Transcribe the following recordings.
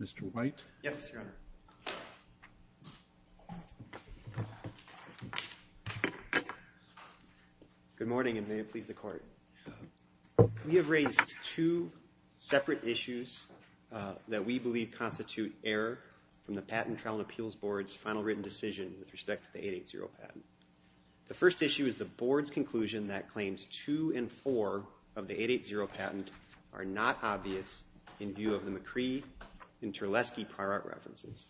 Mr. White. Yes, Your Honor. Good morning and may it please the court. We have raised two separate issues that we believe constitute error from the Patent Trial and Appeals Board's final written decision with respect to the 880 patent. The first issue is the Board's conclusion that claims 2 and 4 of the 880 patent are not obvious in view of the McCree and Terleski prior art references.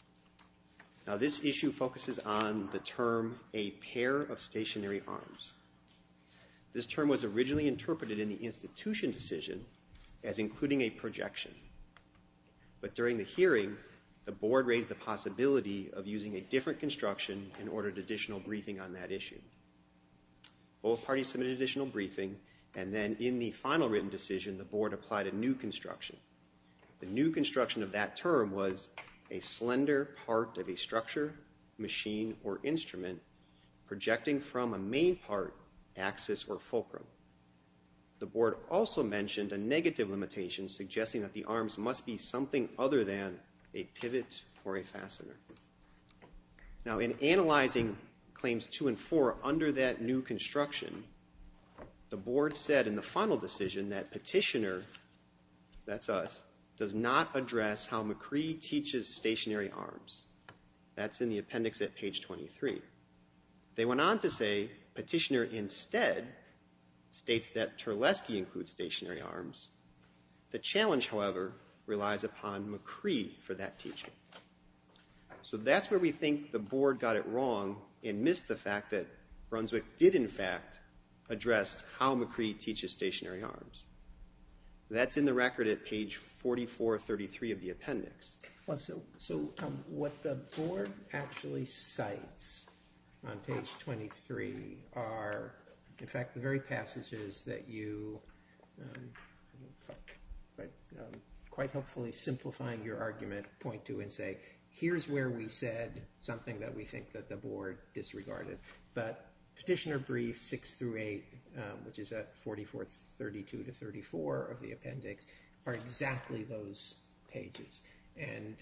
Now this issue focuses on the term a pair of stationary arms. This term was originally interpreted in the institution decision as including a projection. But during the hearing the Board raised the possibility of using a different construction and ordered additional briefing on that issue. Both parties submitted additional briefing and then in the final written decision the Board applied a new construction. The new construction of that term was a slender part of a structure, machine, or instrument projecting from a main part, axis, or fulcrum. The Board also mentioned a negative limitation suggesting that the arms must be something other than a pivot or a fastener. Now in analyzing claims 2 and 4 under that new construction, the Board said in the final decision that Petitioner, that's us, does not address how McCree teaches stationary arms. That's in the appendix at page 23. They went on to say Petitioner instead states that Terleski includes stationary arms. The challenge, however, relies upon McCree for that teaching. So that's where we think the Board got it wrong and missed the fact that Brunswick did in fact address how McCree teaches stationary arms. That's in the record at page 4433 of the appendix. So what the Board actually cites on page 23 are in fact the very passages that you, quite hopefully simplifying your argument, point to and say here's where we said something that we think that the Board disregarded. But Petitioner briefs 6 through 8, which is at 4432-34 of the appendix, are exactly those pages. And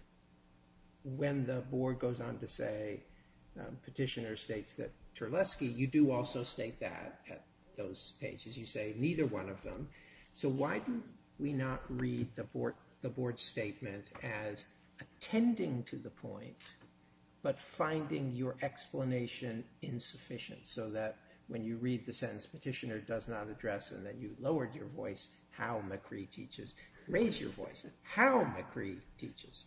when the Board goes on to say Petitioner states that Terleski, you do also state that at those pages. You say neither one of them. So why do we not read the Board's statement as attending to the point but finding your explanation insufficient so that when you read the sentence Petitioner does not address and then you lowered your voice how McCree teaches, raise your voice at how McCree teaches.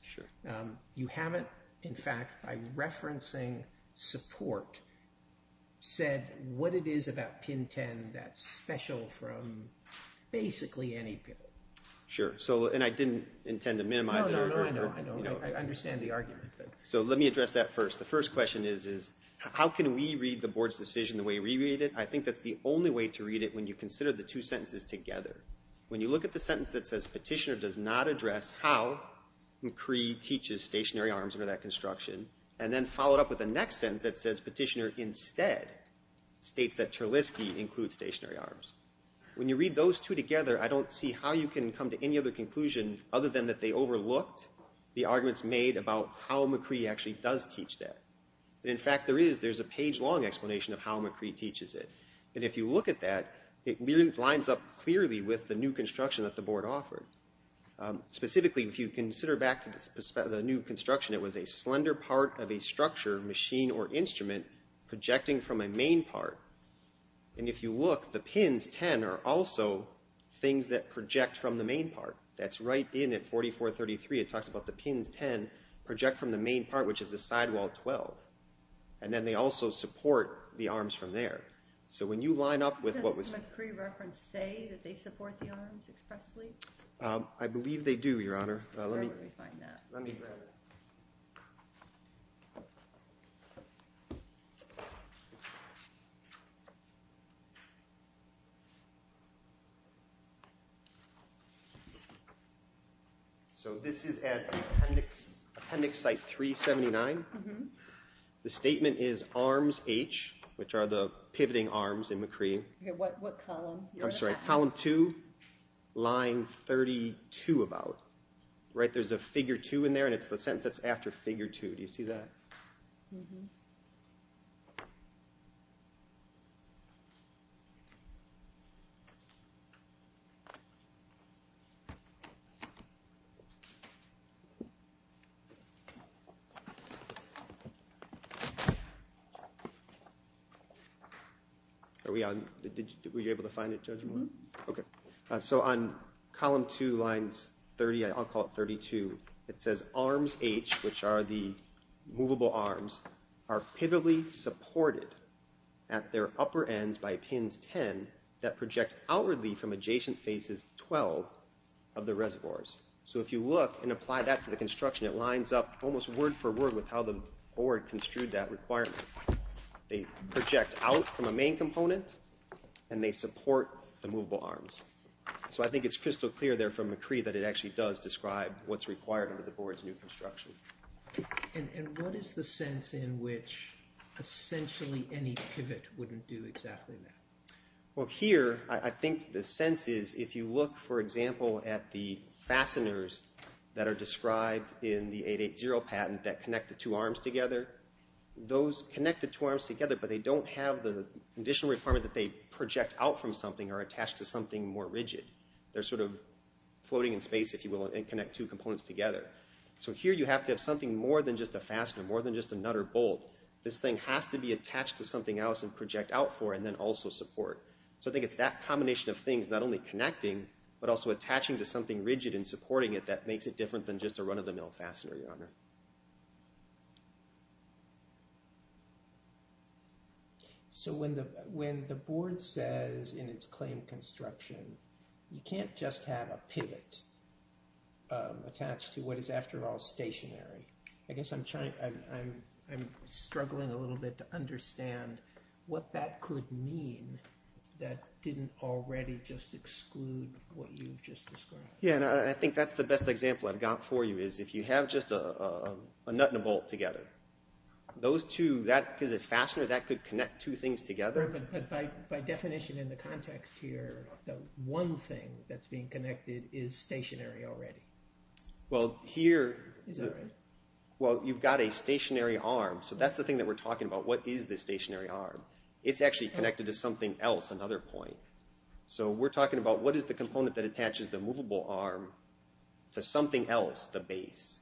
You haven't, in fact, by referencing support, said what it is about pin 10 that's special from basically any pin. Sure. And I didn't intend to minimize it. No, no, I know. I understand the argument. So let me address that first. The first question is how can we read the Board's decision the way we read it? I think that's the only way to read it when you consider the two sentences together. When you look at the sentence that says Petitioner does not address how McCree teaches stationary arms under that construction and then follow it up with the next sentence that says Petitioner instead states that Terleski includes stationary arms. When you read those two together, I don't see how you can come to any other conclusion other than that they overlooked the arguments made about how McCree actually does teach that. In fact, there is, there's a page long explanation of how McCree teaches it. And if you look at that, it lines up clearly with the new construction that the Board offered. Specifically, if you consider back to the new construction, it was a slender part of a structure, machine, or instrument projecting from a main part. And if you look, the pins 10 are also things that project from the main part. That's right in at 4433. It talks about the pins 10 project from the main part, which is the sidewall 12. And then they also support the arms from there. So when you line up with what was... Does the McCree reference say that they support the arms expressly? I believe they do, Your Honor. Let me find that. Let me grab it. So this is at Appendix Site 379. The statement is arms H, which are the pivoting arms in McCree. What column? I'm sorry, column 2, line 32 about. Right, there's a figure 2 in there, and it's the sentence that's after figure 2. Do you see that? Mm-hmm. Are we on? Were you able to find it, Judge Moore? Okay. So on column 2, lines 30, I'll call it 32. It says arms H, which are the movable arms, are pivotally supported at their upper ends by pins 10 that project outwardly from adjacent faces 12 of the reservoirs. So if you look and apply that to the construction, it lines up almost word for word with how the board construed that requirement. They project out from a main component, and they support the movable arms. So I think it's crystal clear there from McCree that it actually does describe what's required under the board's new construction. And what is the sense in which essentially any pivot wouldn't do exactly that? Well, here I think the sense is if you look, for example, at the fasteners that are described in the 8.8.0 patent that connect the two arms together, those connect the two arms together, but they don't have the additional requirement that they project out from something or attach to something more rigid. They're sort of floating in space, if you will, and connect two components together. So here you have to have something more than just a fastener, more than just a nut or bolt. This thing has to be attached to something else and project out for and then also support. So I think it's that combination of things not only connecting, but also attaching to something rigid and supporting it that makes it different than just a run-of-the-mill fastener, Your Honor. So when the board says in its claim construction, you can't just have a pivot attached to what is after all stationary. I guess I'm struggling a little bit to understand what that could mean that didn't already just exclude what you've just described. Yeah, and I think that's the best example I've got for you is if you have just a nut and a bolt together, those two, that is a fastener, that could connect two things together. Right, but by definition in the context here, the one thing that's being connected is stationary already. Is that right? Well, you've got a stationary arm, so that's the thing that we're talking about. What is the stationary arm? It's actually connected to something else, another point. So we're talking about what is the component that attaches the movable arm to something else, the base.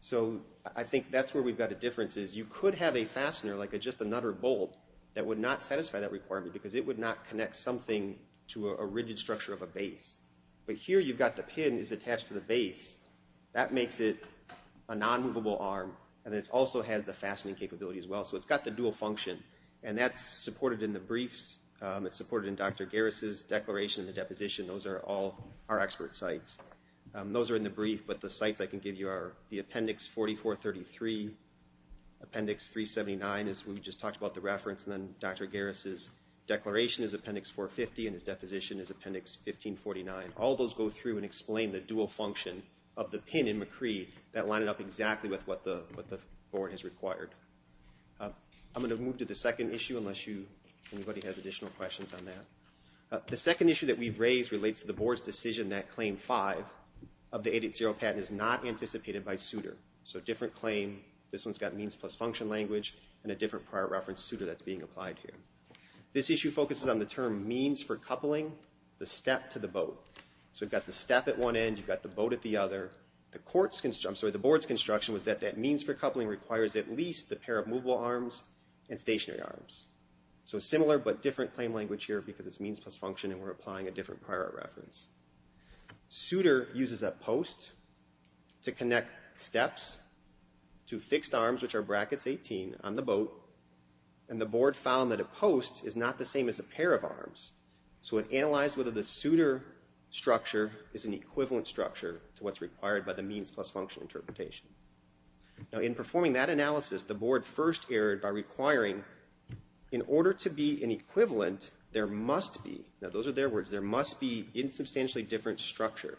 So I think that's where we've got a difference is you could have a fastener like just a nut or bolt that would not satisfy that requirement because it would not connect something to a rigid structure of a base. But here you've got the pin that's attached to the base. That makes it a non-movable arm, and it also has the fastening capability as well. So it's got the dual function, and that's supported in the briefs. It's supported in Dr. Garris' declaration and the deposition. Those are all our expert sites. Those are in the brief, but the sites I can give you are the appendix 4433, appendix 379 as we just talked about the reference, and then Dr. Garris' declaration is appendix 450 and his deposition is appendix 1549. All those go through and explain the dual function of the pin in McCree that lined up exactly with what the board has required. I'm going to move to the second issue unless anybody has additional questions on that. The second issue that we've raised relates to the board's decision that claim five of the 880 patent is not anticipated by suitor. So different claim. This one's got means plus function language and a different prior reference suitor that's being applied here. This issue focuses on the term means for coupling the step to the boat. So you've got the step at one end, you've got the boat at the other. The board's construction was that that means for coupling requires at least the pair of movable arms and stationary arms. So similar but different claim language here because it's means plus function and we're applying a different prior reference. Suitor uses a post to connect steps to fixed arms, which are brackets 18, on the boat, and the board found that a post is not the same as a pair of arms. So it analyzed whether the suitor structure is an equivalent structure to what's required by the means plus function interpretation. Now, in performing that analysis, the board first erred by requiring in order to be an equivalent, there must be. Now, those are their words. There must be insubstantially different structure.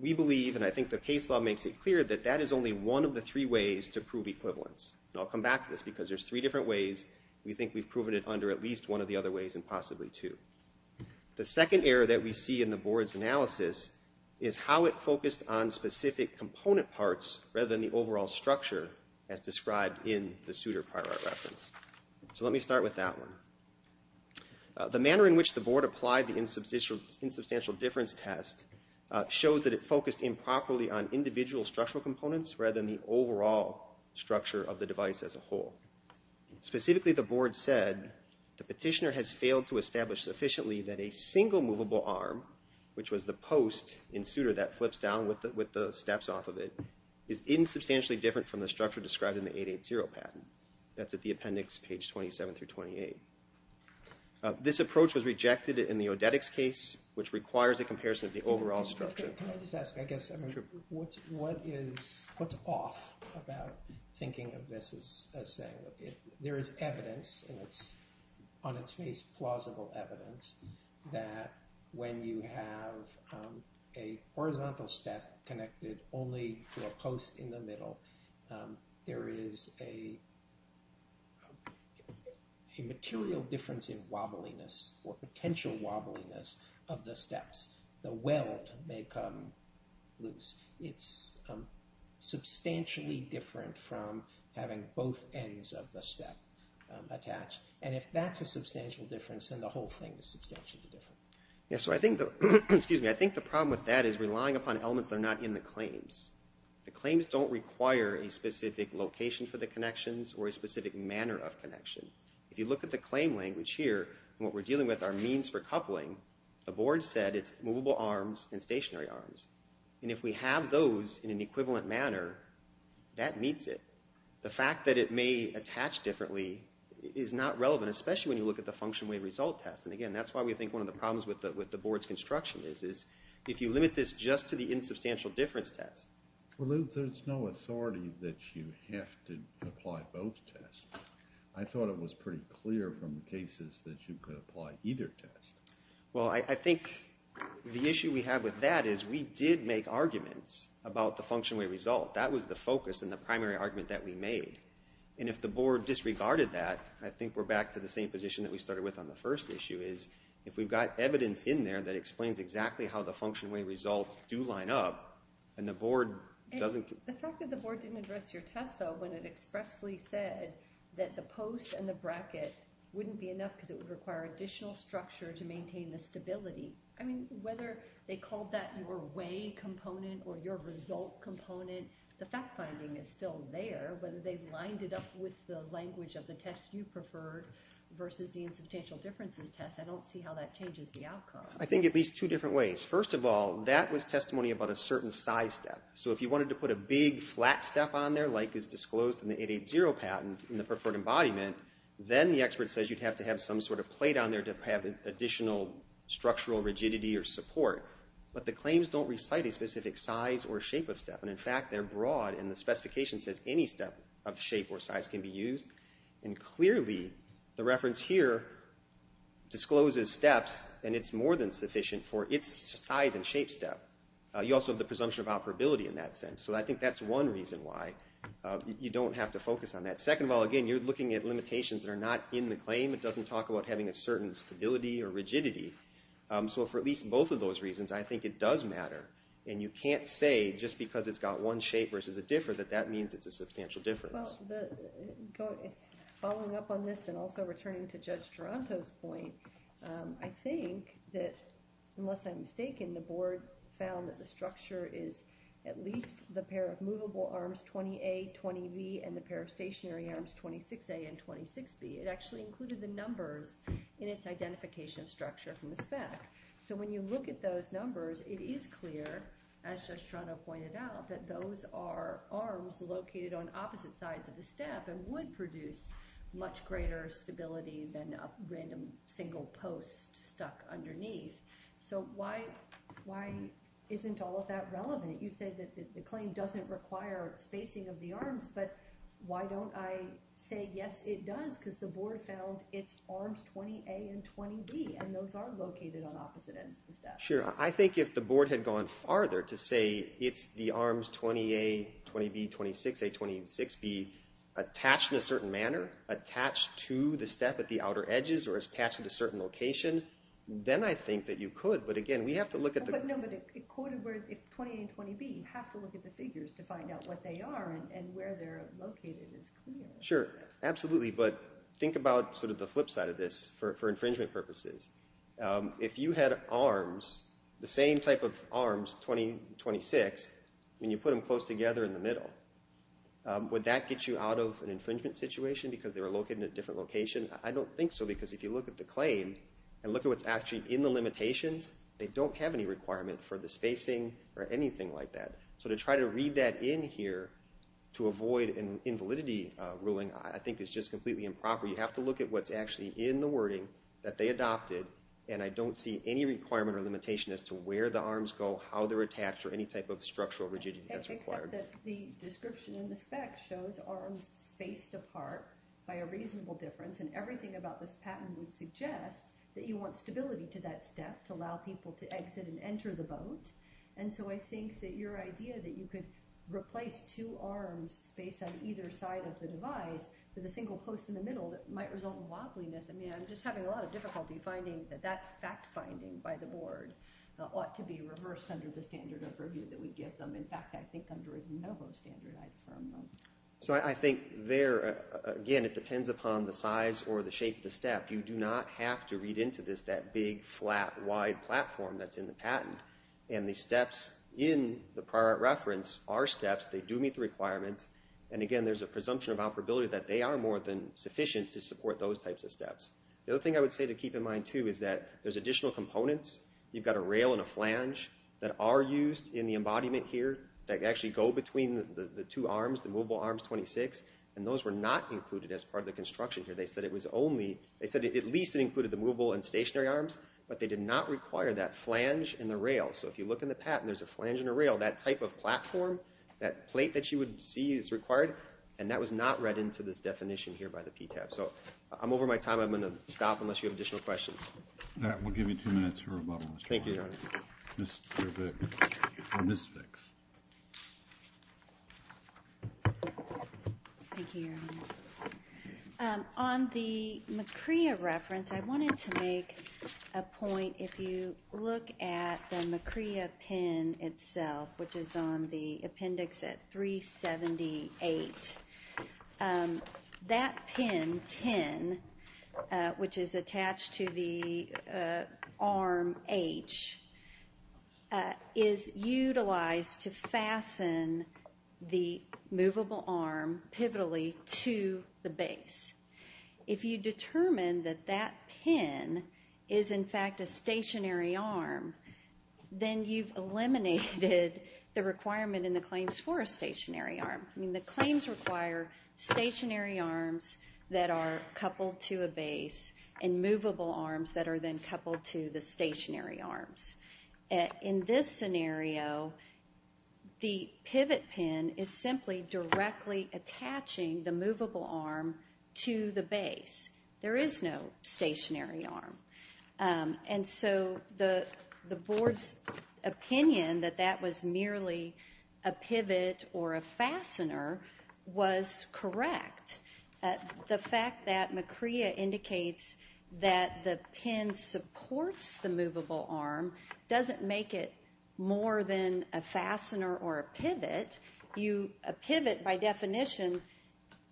We believe, and I think the case law makes it clear, that that is only one of the three ways to prove equivalence. And I'll come back to this because there's three different ways. We think we've proven it under at least one of the other ways and possibly two. The second error that we see in the board's analysis is how it focused on specific component parts rather than the overall structure as described in the suitor prior reference. So let me start with that one. The manner in which the board applied the insubstantial difference test shows that it focused improperly on individual structural components rather than the overall structure of the device as a whole. Specifically, the board said the petitioner has failed to establish sufficiently that a single movable arm, which was the post in suitor that flips down with the steps off of it, is insubstantially different from the structure described in the 880 patent. That's at the appendix, page 27 through 28. This approach was rejected in the Odetics case, which requires a comparison of the overall structure. Can I just ask, I guess, what's off about thinking of this as saying there is evidence, and it's on its face plausible evidence, that when you have a horizontal step connected only to a post in the middle, there is a material difference in wobbliness or potential wobbliness of the steps. The weld may come loose. It's substantially different from having both ends of the step attached. And if that's a substantial difference, then the whole thing is substantially different. So I think the problem with that is relying upon elements that are not in the claims. The claims don't require a specific location for the connections or a specific manner of connection. If you look at the claim language here, what we're dealing with are means for coupling. The board said it's movable arms and stationary arms. And if we have those in an equivalent manner, that meets it. The fact that it may attach differently is not relevant, especially when you look at the function way result test. And again, that's why we think one of the problems with the board's construction is, if you limit this just to the insubstantial difference test. Well, there's no authority that you have to apply both tests. I thought it was pretty clear from the cases that you could apply either test. Well, I think the issue we have with that is we did make arguments about the function way result. That was the focus and the primary argument that we made. And if the board disregarded that, I think we're back to the same position that we started with on the first issue, is if we've got evidence in there that explains exactly how the function way results do line up and the board doesn't. The fact that the board didn't address your test, though, when it expressly said that the post and the bracket wouldn't be enough because it would require additional structure to maintain the stability. I mean, whether they called that your way component or your result component, the fact finding is still there. But they've lined it up with the language of the test you prefer versus the insubstantial differences test. I don't see how that changes the outcome. I think at least two different ways. First of all, that was testimony about a certain size step. So if you wanted to put a big flat step on there like is disclosed in the 880 patent in the preferred embodiment, then the expert says you'd have to have some sort of plate on there to have additional structural rigidity or support. But the claims don't recite a specific size or shape of step. In fact, they're broad and the specification says any step of shape or size can be used. And clearly, the reference here discloses steps and it's more than sufficient for its size and shape step. You also have the presumption of operability in that sense. So I think that's one reason why you don't have to focus on that. Second of all, again, you're looking at limitations that are not in the claim. It doesn't talk about having a certain stability or rigidity. So for at least both of those reasons, I think it does matter. And you can't say just because it's got one shape versus a differ that that means it's a substantial difference. Well, following up on this and also returning to Judge Toronto's point, I think that unless I'm mistaken, the board found that the structure is at least the pair of movable arms 20A, 20B, and the pair of stationary arms 26A and 26B. It actually included the numbers in its identification structure from the spec. So when you look at those numbers, it is clear, as Judge Toronto pointed out, that those are arms located on opposite sides of the step and would produce much greater stability than a random single post stuck underneath. So why isn't all of that relevant? You said that the claim doesn't require spacing of the arms, but why don't I say, yes, it does, because the board found it's arms 20A and 20B, and those are located on opposite ends of the step. Sure. I think if the board had gone farther to say it's the arms 20A, 20B, 26A, 26B, attached in a certain manner, attached to the step at the outer edges, or attached at a certain location, then I think that you could. But again, we have to look at the... No, but it quoted where 20A and 20B. You have to look at the figures to find out what they are and where they're located. Sure, absolutely. But think about sort of the flip side of this for infringement purposes. If you had arms, the same type of arms, 20, 26, and you put them close together in the middle, would that get you out of an infringement situation because they were located in a different location? I don't think so because if you look at the claim and look at what's actually in the limitations, they don't have any requirement for the spacing or anything like that. So to try to read that in here to avoid an invalidity ruling, I think is just completely improper. You have to look at what's actually in the wording that they adopted, and I don't see any requirement or limitation as to where the arms go, how they're attached, or any type of structural rigidity that's required. Except that the description in the spec shows arms spaced apart by a reasonable difference, and everything about this patent would suggest that you want stability to that step to allow people to exit and enter the boat. And so I think that your idea that you could replace two arms spaced on either side of the device with a single post in the middle that might result in wobbliness, I mean I'm just having a lot of difficulty finding that that fact-finding by the board ought to be reversed under the standard of purview that we give them. In fact, I think under a NOVO standard I'd firm them. So I think there, again, it depends upon the size or the shape of the step. You do not have to read into this that big, flat, wide platform that's in the patent. And the steps in the prior reference are steps. They do meet the requirements. And again, there's a presumption of operability that they are more than sufficient to support those types of steps. The other thing I would say to keep in mind too is that there's additional components. You've got a rail and a flange that are used in the embodiment here that actually go between the two arms, the movable arms 26, and those were not included as part of the construction here. They said at least it included the movable and stationary arms, but they did not require that flange and the rail. So if you look in the patent, there's a flange and a rail. That type of platform, that plate that you would see is required, and that was not read into this definition here by the PTAB. So I'm over my time. I'm going to stop unless you have additional questions. That will give you two minutes for rebuttal. Thank you, Your Honor. Ms. Spicks. Thank you, Your Honor. On the McCrea reference, I wanted to make a point. If you look at the McCrea pin itself, which is on the appendix at 378, that pin 10, which is attached to the arm H, is utilized to fasten the movable arm pivotally to the base. If you determine that that pin is, in fact, a stationary arm, then you've eliminated the requirement in the claims for a stationary arm. I mean, the claims require stationary arms that are coupled to a base and movable arms that are then coupled to the stationary arms. In this scenario, the pivot pin is simply directly attaching the movable arm to the base. There is no stationary arm. And so the board's opinion that that was merely a pivot or a fastener was correct. The fact that McCrea indicates that the pin supports the movable arm doesn't make it more than a fastener or a pivot. A pivot, by definition,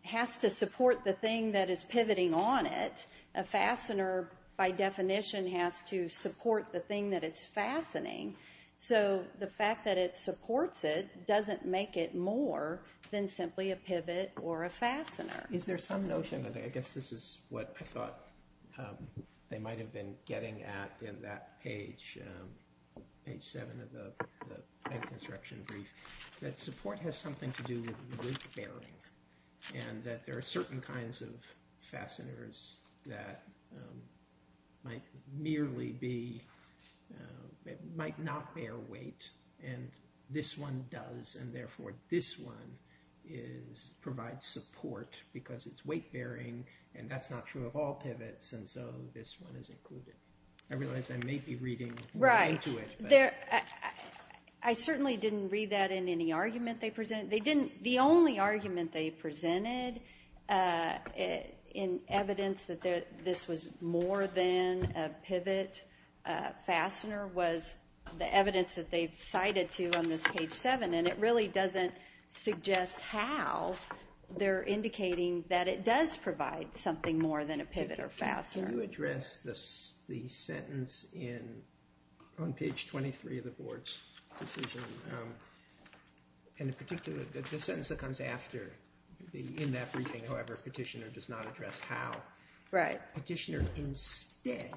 has to support the thing that is pivoting on it. A fastener, by definition, has to support the thing that it's fastening. So the fact that it supports it doesn't make it more than simply a pivot or a fastener. Is there some notion of it? I guess this is what I thought they might have been getting at in that page, page 7 of the plane construction brief, that support has something to do with bearing and that there are certain kinds of fasteners that might merely be, might not bear weight, and this one does, and therefore this one provides support because it's weight-bearing and that's not true of all pivots, and so this one is included. I realize I may be reading into it. Right. I certainly didn't read that in any argument they presented. They didn't, the only argument they presented in evidence that this was more than a pivot fastener was the evidence that they've cited to on this page 7, and it really doesn't suggest how they're indicating that it does provide something more than a pivot or fastener. Can you address the sentence on page 23 of the board's decision, and in particular the sentence that comes after, in that briefing, however, petitioner does not address how. Right. Petitioner instead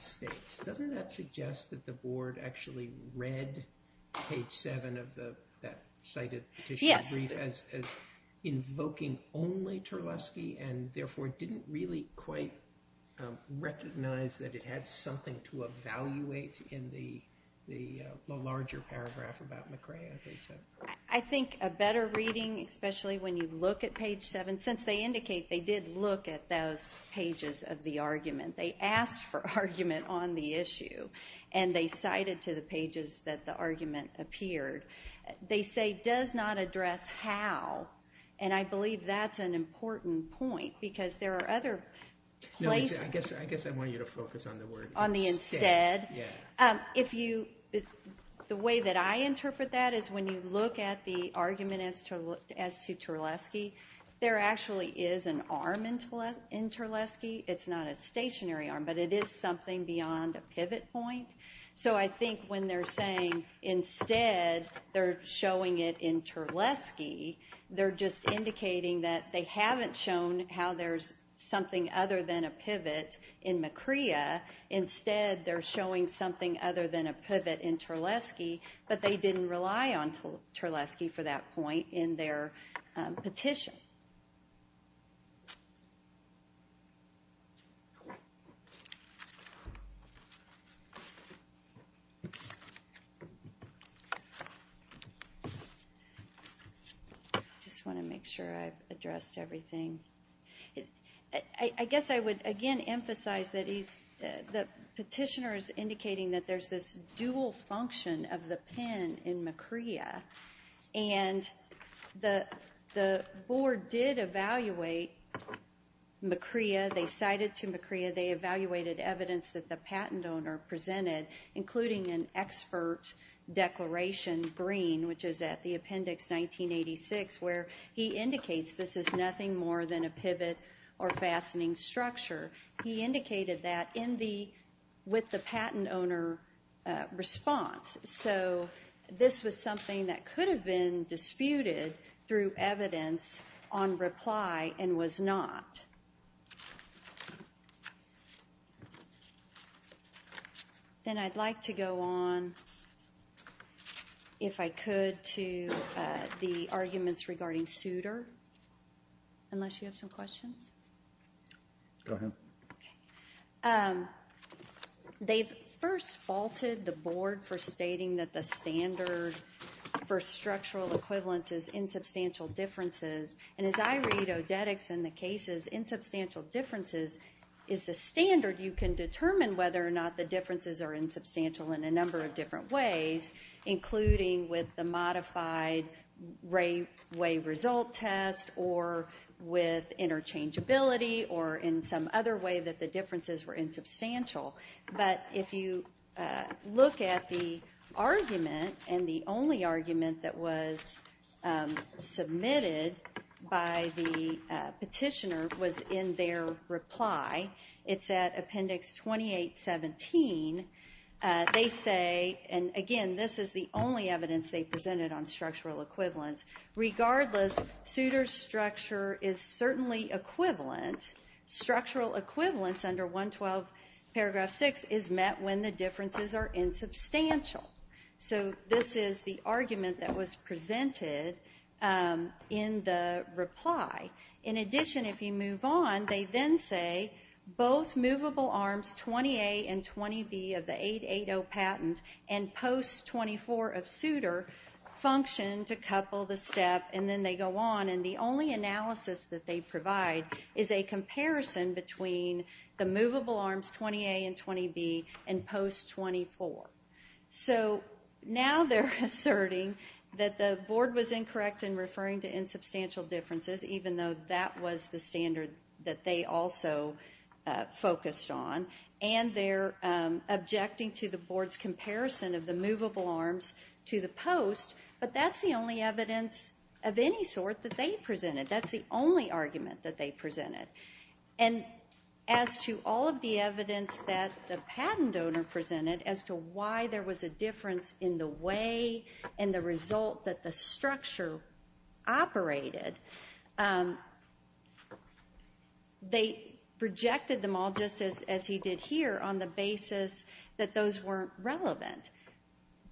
states, doesn't that suggest that the board actually read page 7 of that cited petitioner brief as invoking only Terleski in the larger paragraph about McCrea, they said. I think a better reading, especially when you look at page 7, since they indicate they did look at those pages of the argument, they asked for argument on the issue, and they cited to the pages that the argument appeared. They say does not address how, and I believe that's an important point because there are other places. I guess I want you to focus on the word instead. The way that I interpret that is when you look at the argument as to Terleski, there actually is an arm in Terleski. It's not a stationary arm, but it is something beyond a pivot point. So I think when they're saying instead they're showing it in Terleski, they're just indicating that they haven't shown how there's something other than a pivot in McCrea. Instead, they're showing something other than a pivot in Terleski, but they didn't rely on Terleski for that point in their petition. I just want to make sure I've addressed everything. I guess I would again emphasize that the petitioner is indicating that there's this dual function of the pen in McCrea, and the board did evaluate McCrea. They cited to McCrea. They evaluated evidence that the patent owner presented, including an expert declaration, Green, which is at the appendix 1986, where he indicates this is nothing more than a pivot or fastening structure. He indicated that with the patent owner response. So this was something that could have been disputed through evidence on reply and was not. Then I'd like to go on, if I could, to the arguments regarding Souter, unless you have some questions. Go ahead. They first faulted the board for stating that the standard for structural equivalence is in substantial differences, and as I read odetics in the cases, insubstantial differences is the standard. You can determine whether or not the differences are insubstantial in a number of different ways, including with the modified Rayway result test, or with interchangeability, or in some other way that the differences were insubstantial. But if you look at the argument, and the only argument that was submitted by the petitioner was in their reply, it's at appendix 2817. They say, and again, this is the only evidence they presented on structural equivalence, regardless, Souter's structure is certainly equivalent. Structural equivalence under 112 paragraph 6 is met when the differences are insubstantial. So this is the argument that was presented in the reply. In addition, if you move on, they then say both movable arms 20A and 20B of the 880 patent and post 24 of Souter function to couple the step, and then they go on, and the only analysis that they provide is a comparison between the movable arms 20A and 20B and post 24. So now they're asserting that the board was incorrect in referring to insubstantial differences, even though that was the standard that they also focused on, and they're objecting to the board's comparison of the movable arms to the post, but that's the only evidence of any sort that they presented. That's the only argument that they presented. And as to all of the evidence that the patent donor presented as to why there was a difference in the way and the result that the structure operated, they rejected them all just as he did here on the basis that those weren't relevant.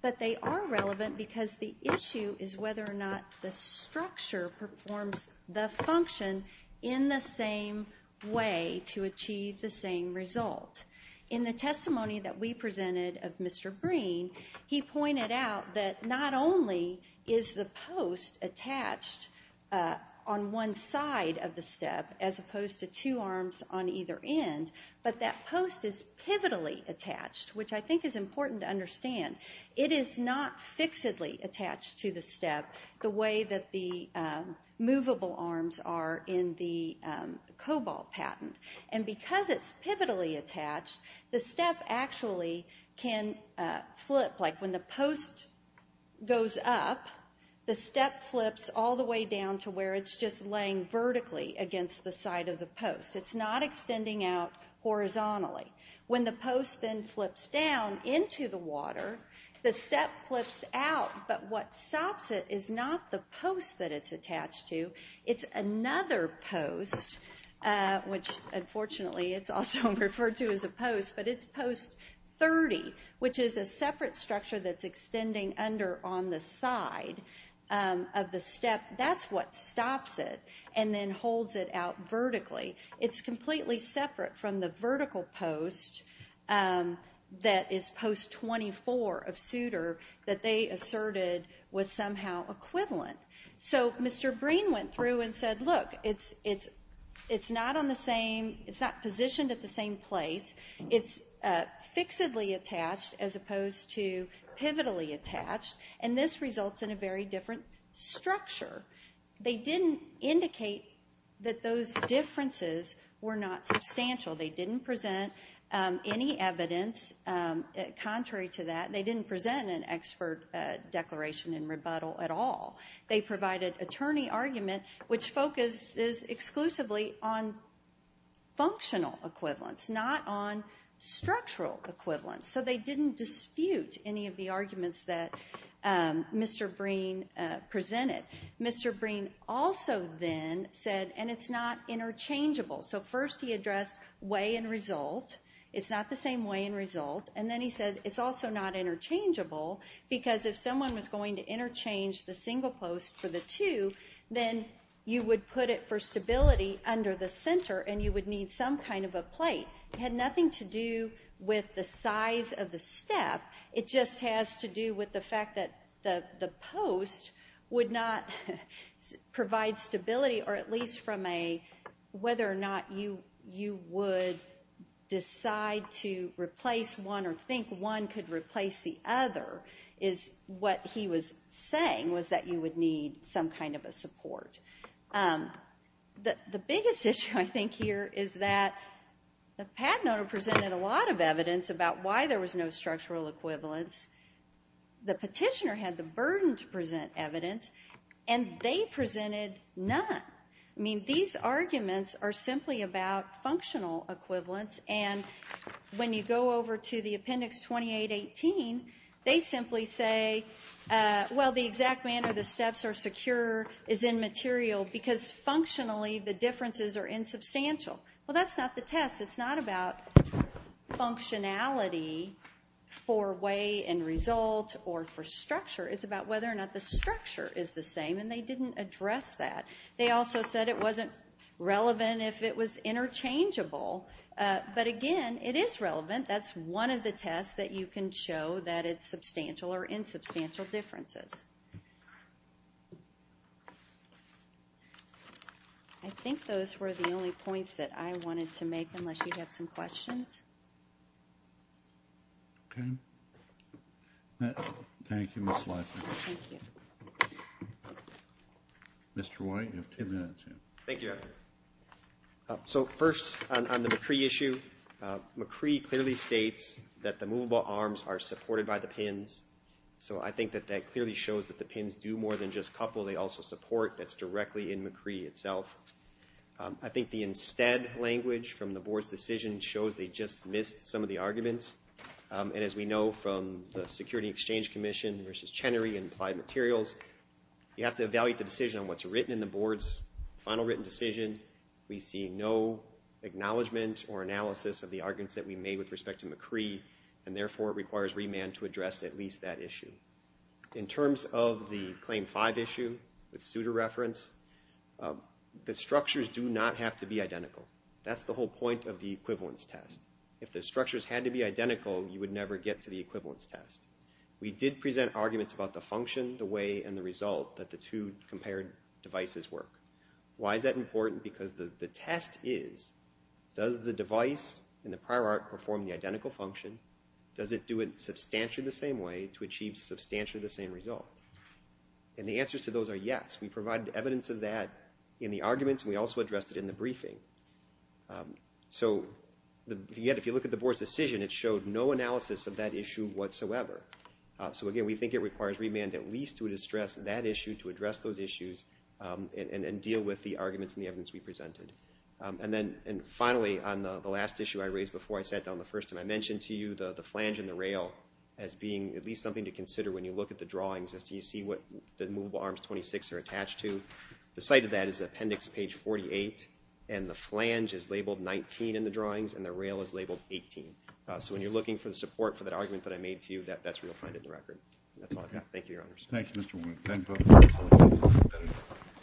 But they are relevant because the issue is whether or not the structure performs the function in the same way to achieve the same result. In the testimony that we presented of Mr. Green, he pointed out that not only is the post attached on one side of the step as opposed to two arms on either end, but that post is pivotally attached, which I think is important to understand. It is not fixedly attached to the step the way that the movable arms are in the COBOL patent. And because it's pivotally attached, the step actually can flip. Like when the post goes up, the step flips all the way down to where it's just laying vertically against the side of the post. It's not extending out horizontally. When the post then flips down into the water, the step flips out, but what stops it is not the post that it's attached to. It's another post, which unfortunately it's also referred to as a post, but it's post 30, which is a separate structure that's extending under on the side of the step. That's what stops it and then holds it out vertically. It's completely separate from the vertical post that is post 24 of Suter that they asserted was somehow equivalent. So Mr. Breen went through and said, look, it's not positioned at the same place. It's fixedly attached as opposed to pivotally attached, and this results in a very different structure. They didn't indicate that those differences were not substantial. They didn't present any evidence contrary to that. They didn't present an expert declaration in rebuttal at all. They provided attorney argument, which focuses exclusively on functional equivalence, not on structural equivalence. So they didn't dispute any of the arguments that Mr. Breen presented. Mr. Breen also then said, and it's not interchangeable. So first he addressed way and result. It's not the same way and result. And then he said it's also not interchangeable because if someone was going to interchange the single post for the two, then you would put it for stability under the center and you would need some kind of a plate. It had nothing to do with the size of the step. It just has to do with the fact that the post would not provide stability or at least from a whether or not you would decide to replace one or think one could replace the other is what he was saying, was that you would need some kind of a support. The biggest issue I think here is that the patent owner presented a lot of evidence about why there was no structural equivalence. The petitioner had the burden to present evidence, and they presented none. These arguments are simply about functional equivalence, and when you go over to the Appendix 2818, they simply say, well, the exact manner the steps are secure is immaterial because functionally the differences are insubstantial. Well, that's not the test. It's not about functionality for way and result or for structure. It's about whether or not the structure is the same, and they didn't address that. They also said it wasn't relevant if it was interchangeable. But again, it is relevant. That's one of the tests that you can show that it's substantial or insubstantial differences. I think those were the only points that I wanted to make, unless you have some questions. Okay. Thank you, Ms. Leiser. Thank you. Mr. White, you have two minutes. Thank you, Dr. So first, on the McCree issue, McCree clearly states that the movable arms are supported by the pins, so I think that that clearly shows that. It shows that the pins do more than just couple. They also support. That's directly in McCree itself. I think the instead language from the board's decision shows they just missed some of the arguments. And as we know from the Security Exchange Commission versus Chenery and Applied Materials, you have to evaluate the decision on what's written in the board's final written decision. We see no acknowledgment or analysis of the arguments that we made with respect to McCree, and therefore it requires remand to address at least that issue. In terms of the Claim 5 issue with Souter reference, the structures do not have to be identical. That's the whole point of the equivalence test. If the structures had to be identical, you would never get to the equivalence test. We did present arguments about the function, the way, and the result, that the two compared devices work. Why is that important? Because the test is, does the device in the prior art perform the identical function? Does it do it substantially the same way to achieve substantially the same result? And the answers to those are yes. We provided evidence of that in the arguments, and we also addressed it in the briefing. So, yet, if you look at the board's decision, it showed no analysis of that issue whatsoever. So, again, we think it requires remand at least to address that issue, to address those issues, and deal with the arguments and the evidence we presented. And finally, on the last issue I raised before I sat down the first time, I mentioned to you the flange and the rail as being at least something to consider when you look at the drawings as to you see what the movable arms 26 are attached to. The site of that is appendix page 48, and the flange is labeled 19 in the drawings, and the rail is labeled 18. So, when you're looking for the support for that argument that I made to you, that's where you'll find it in the record. That's all I've got. Thank you, Your Honors. Thank you, Mr. Wink. Thank you.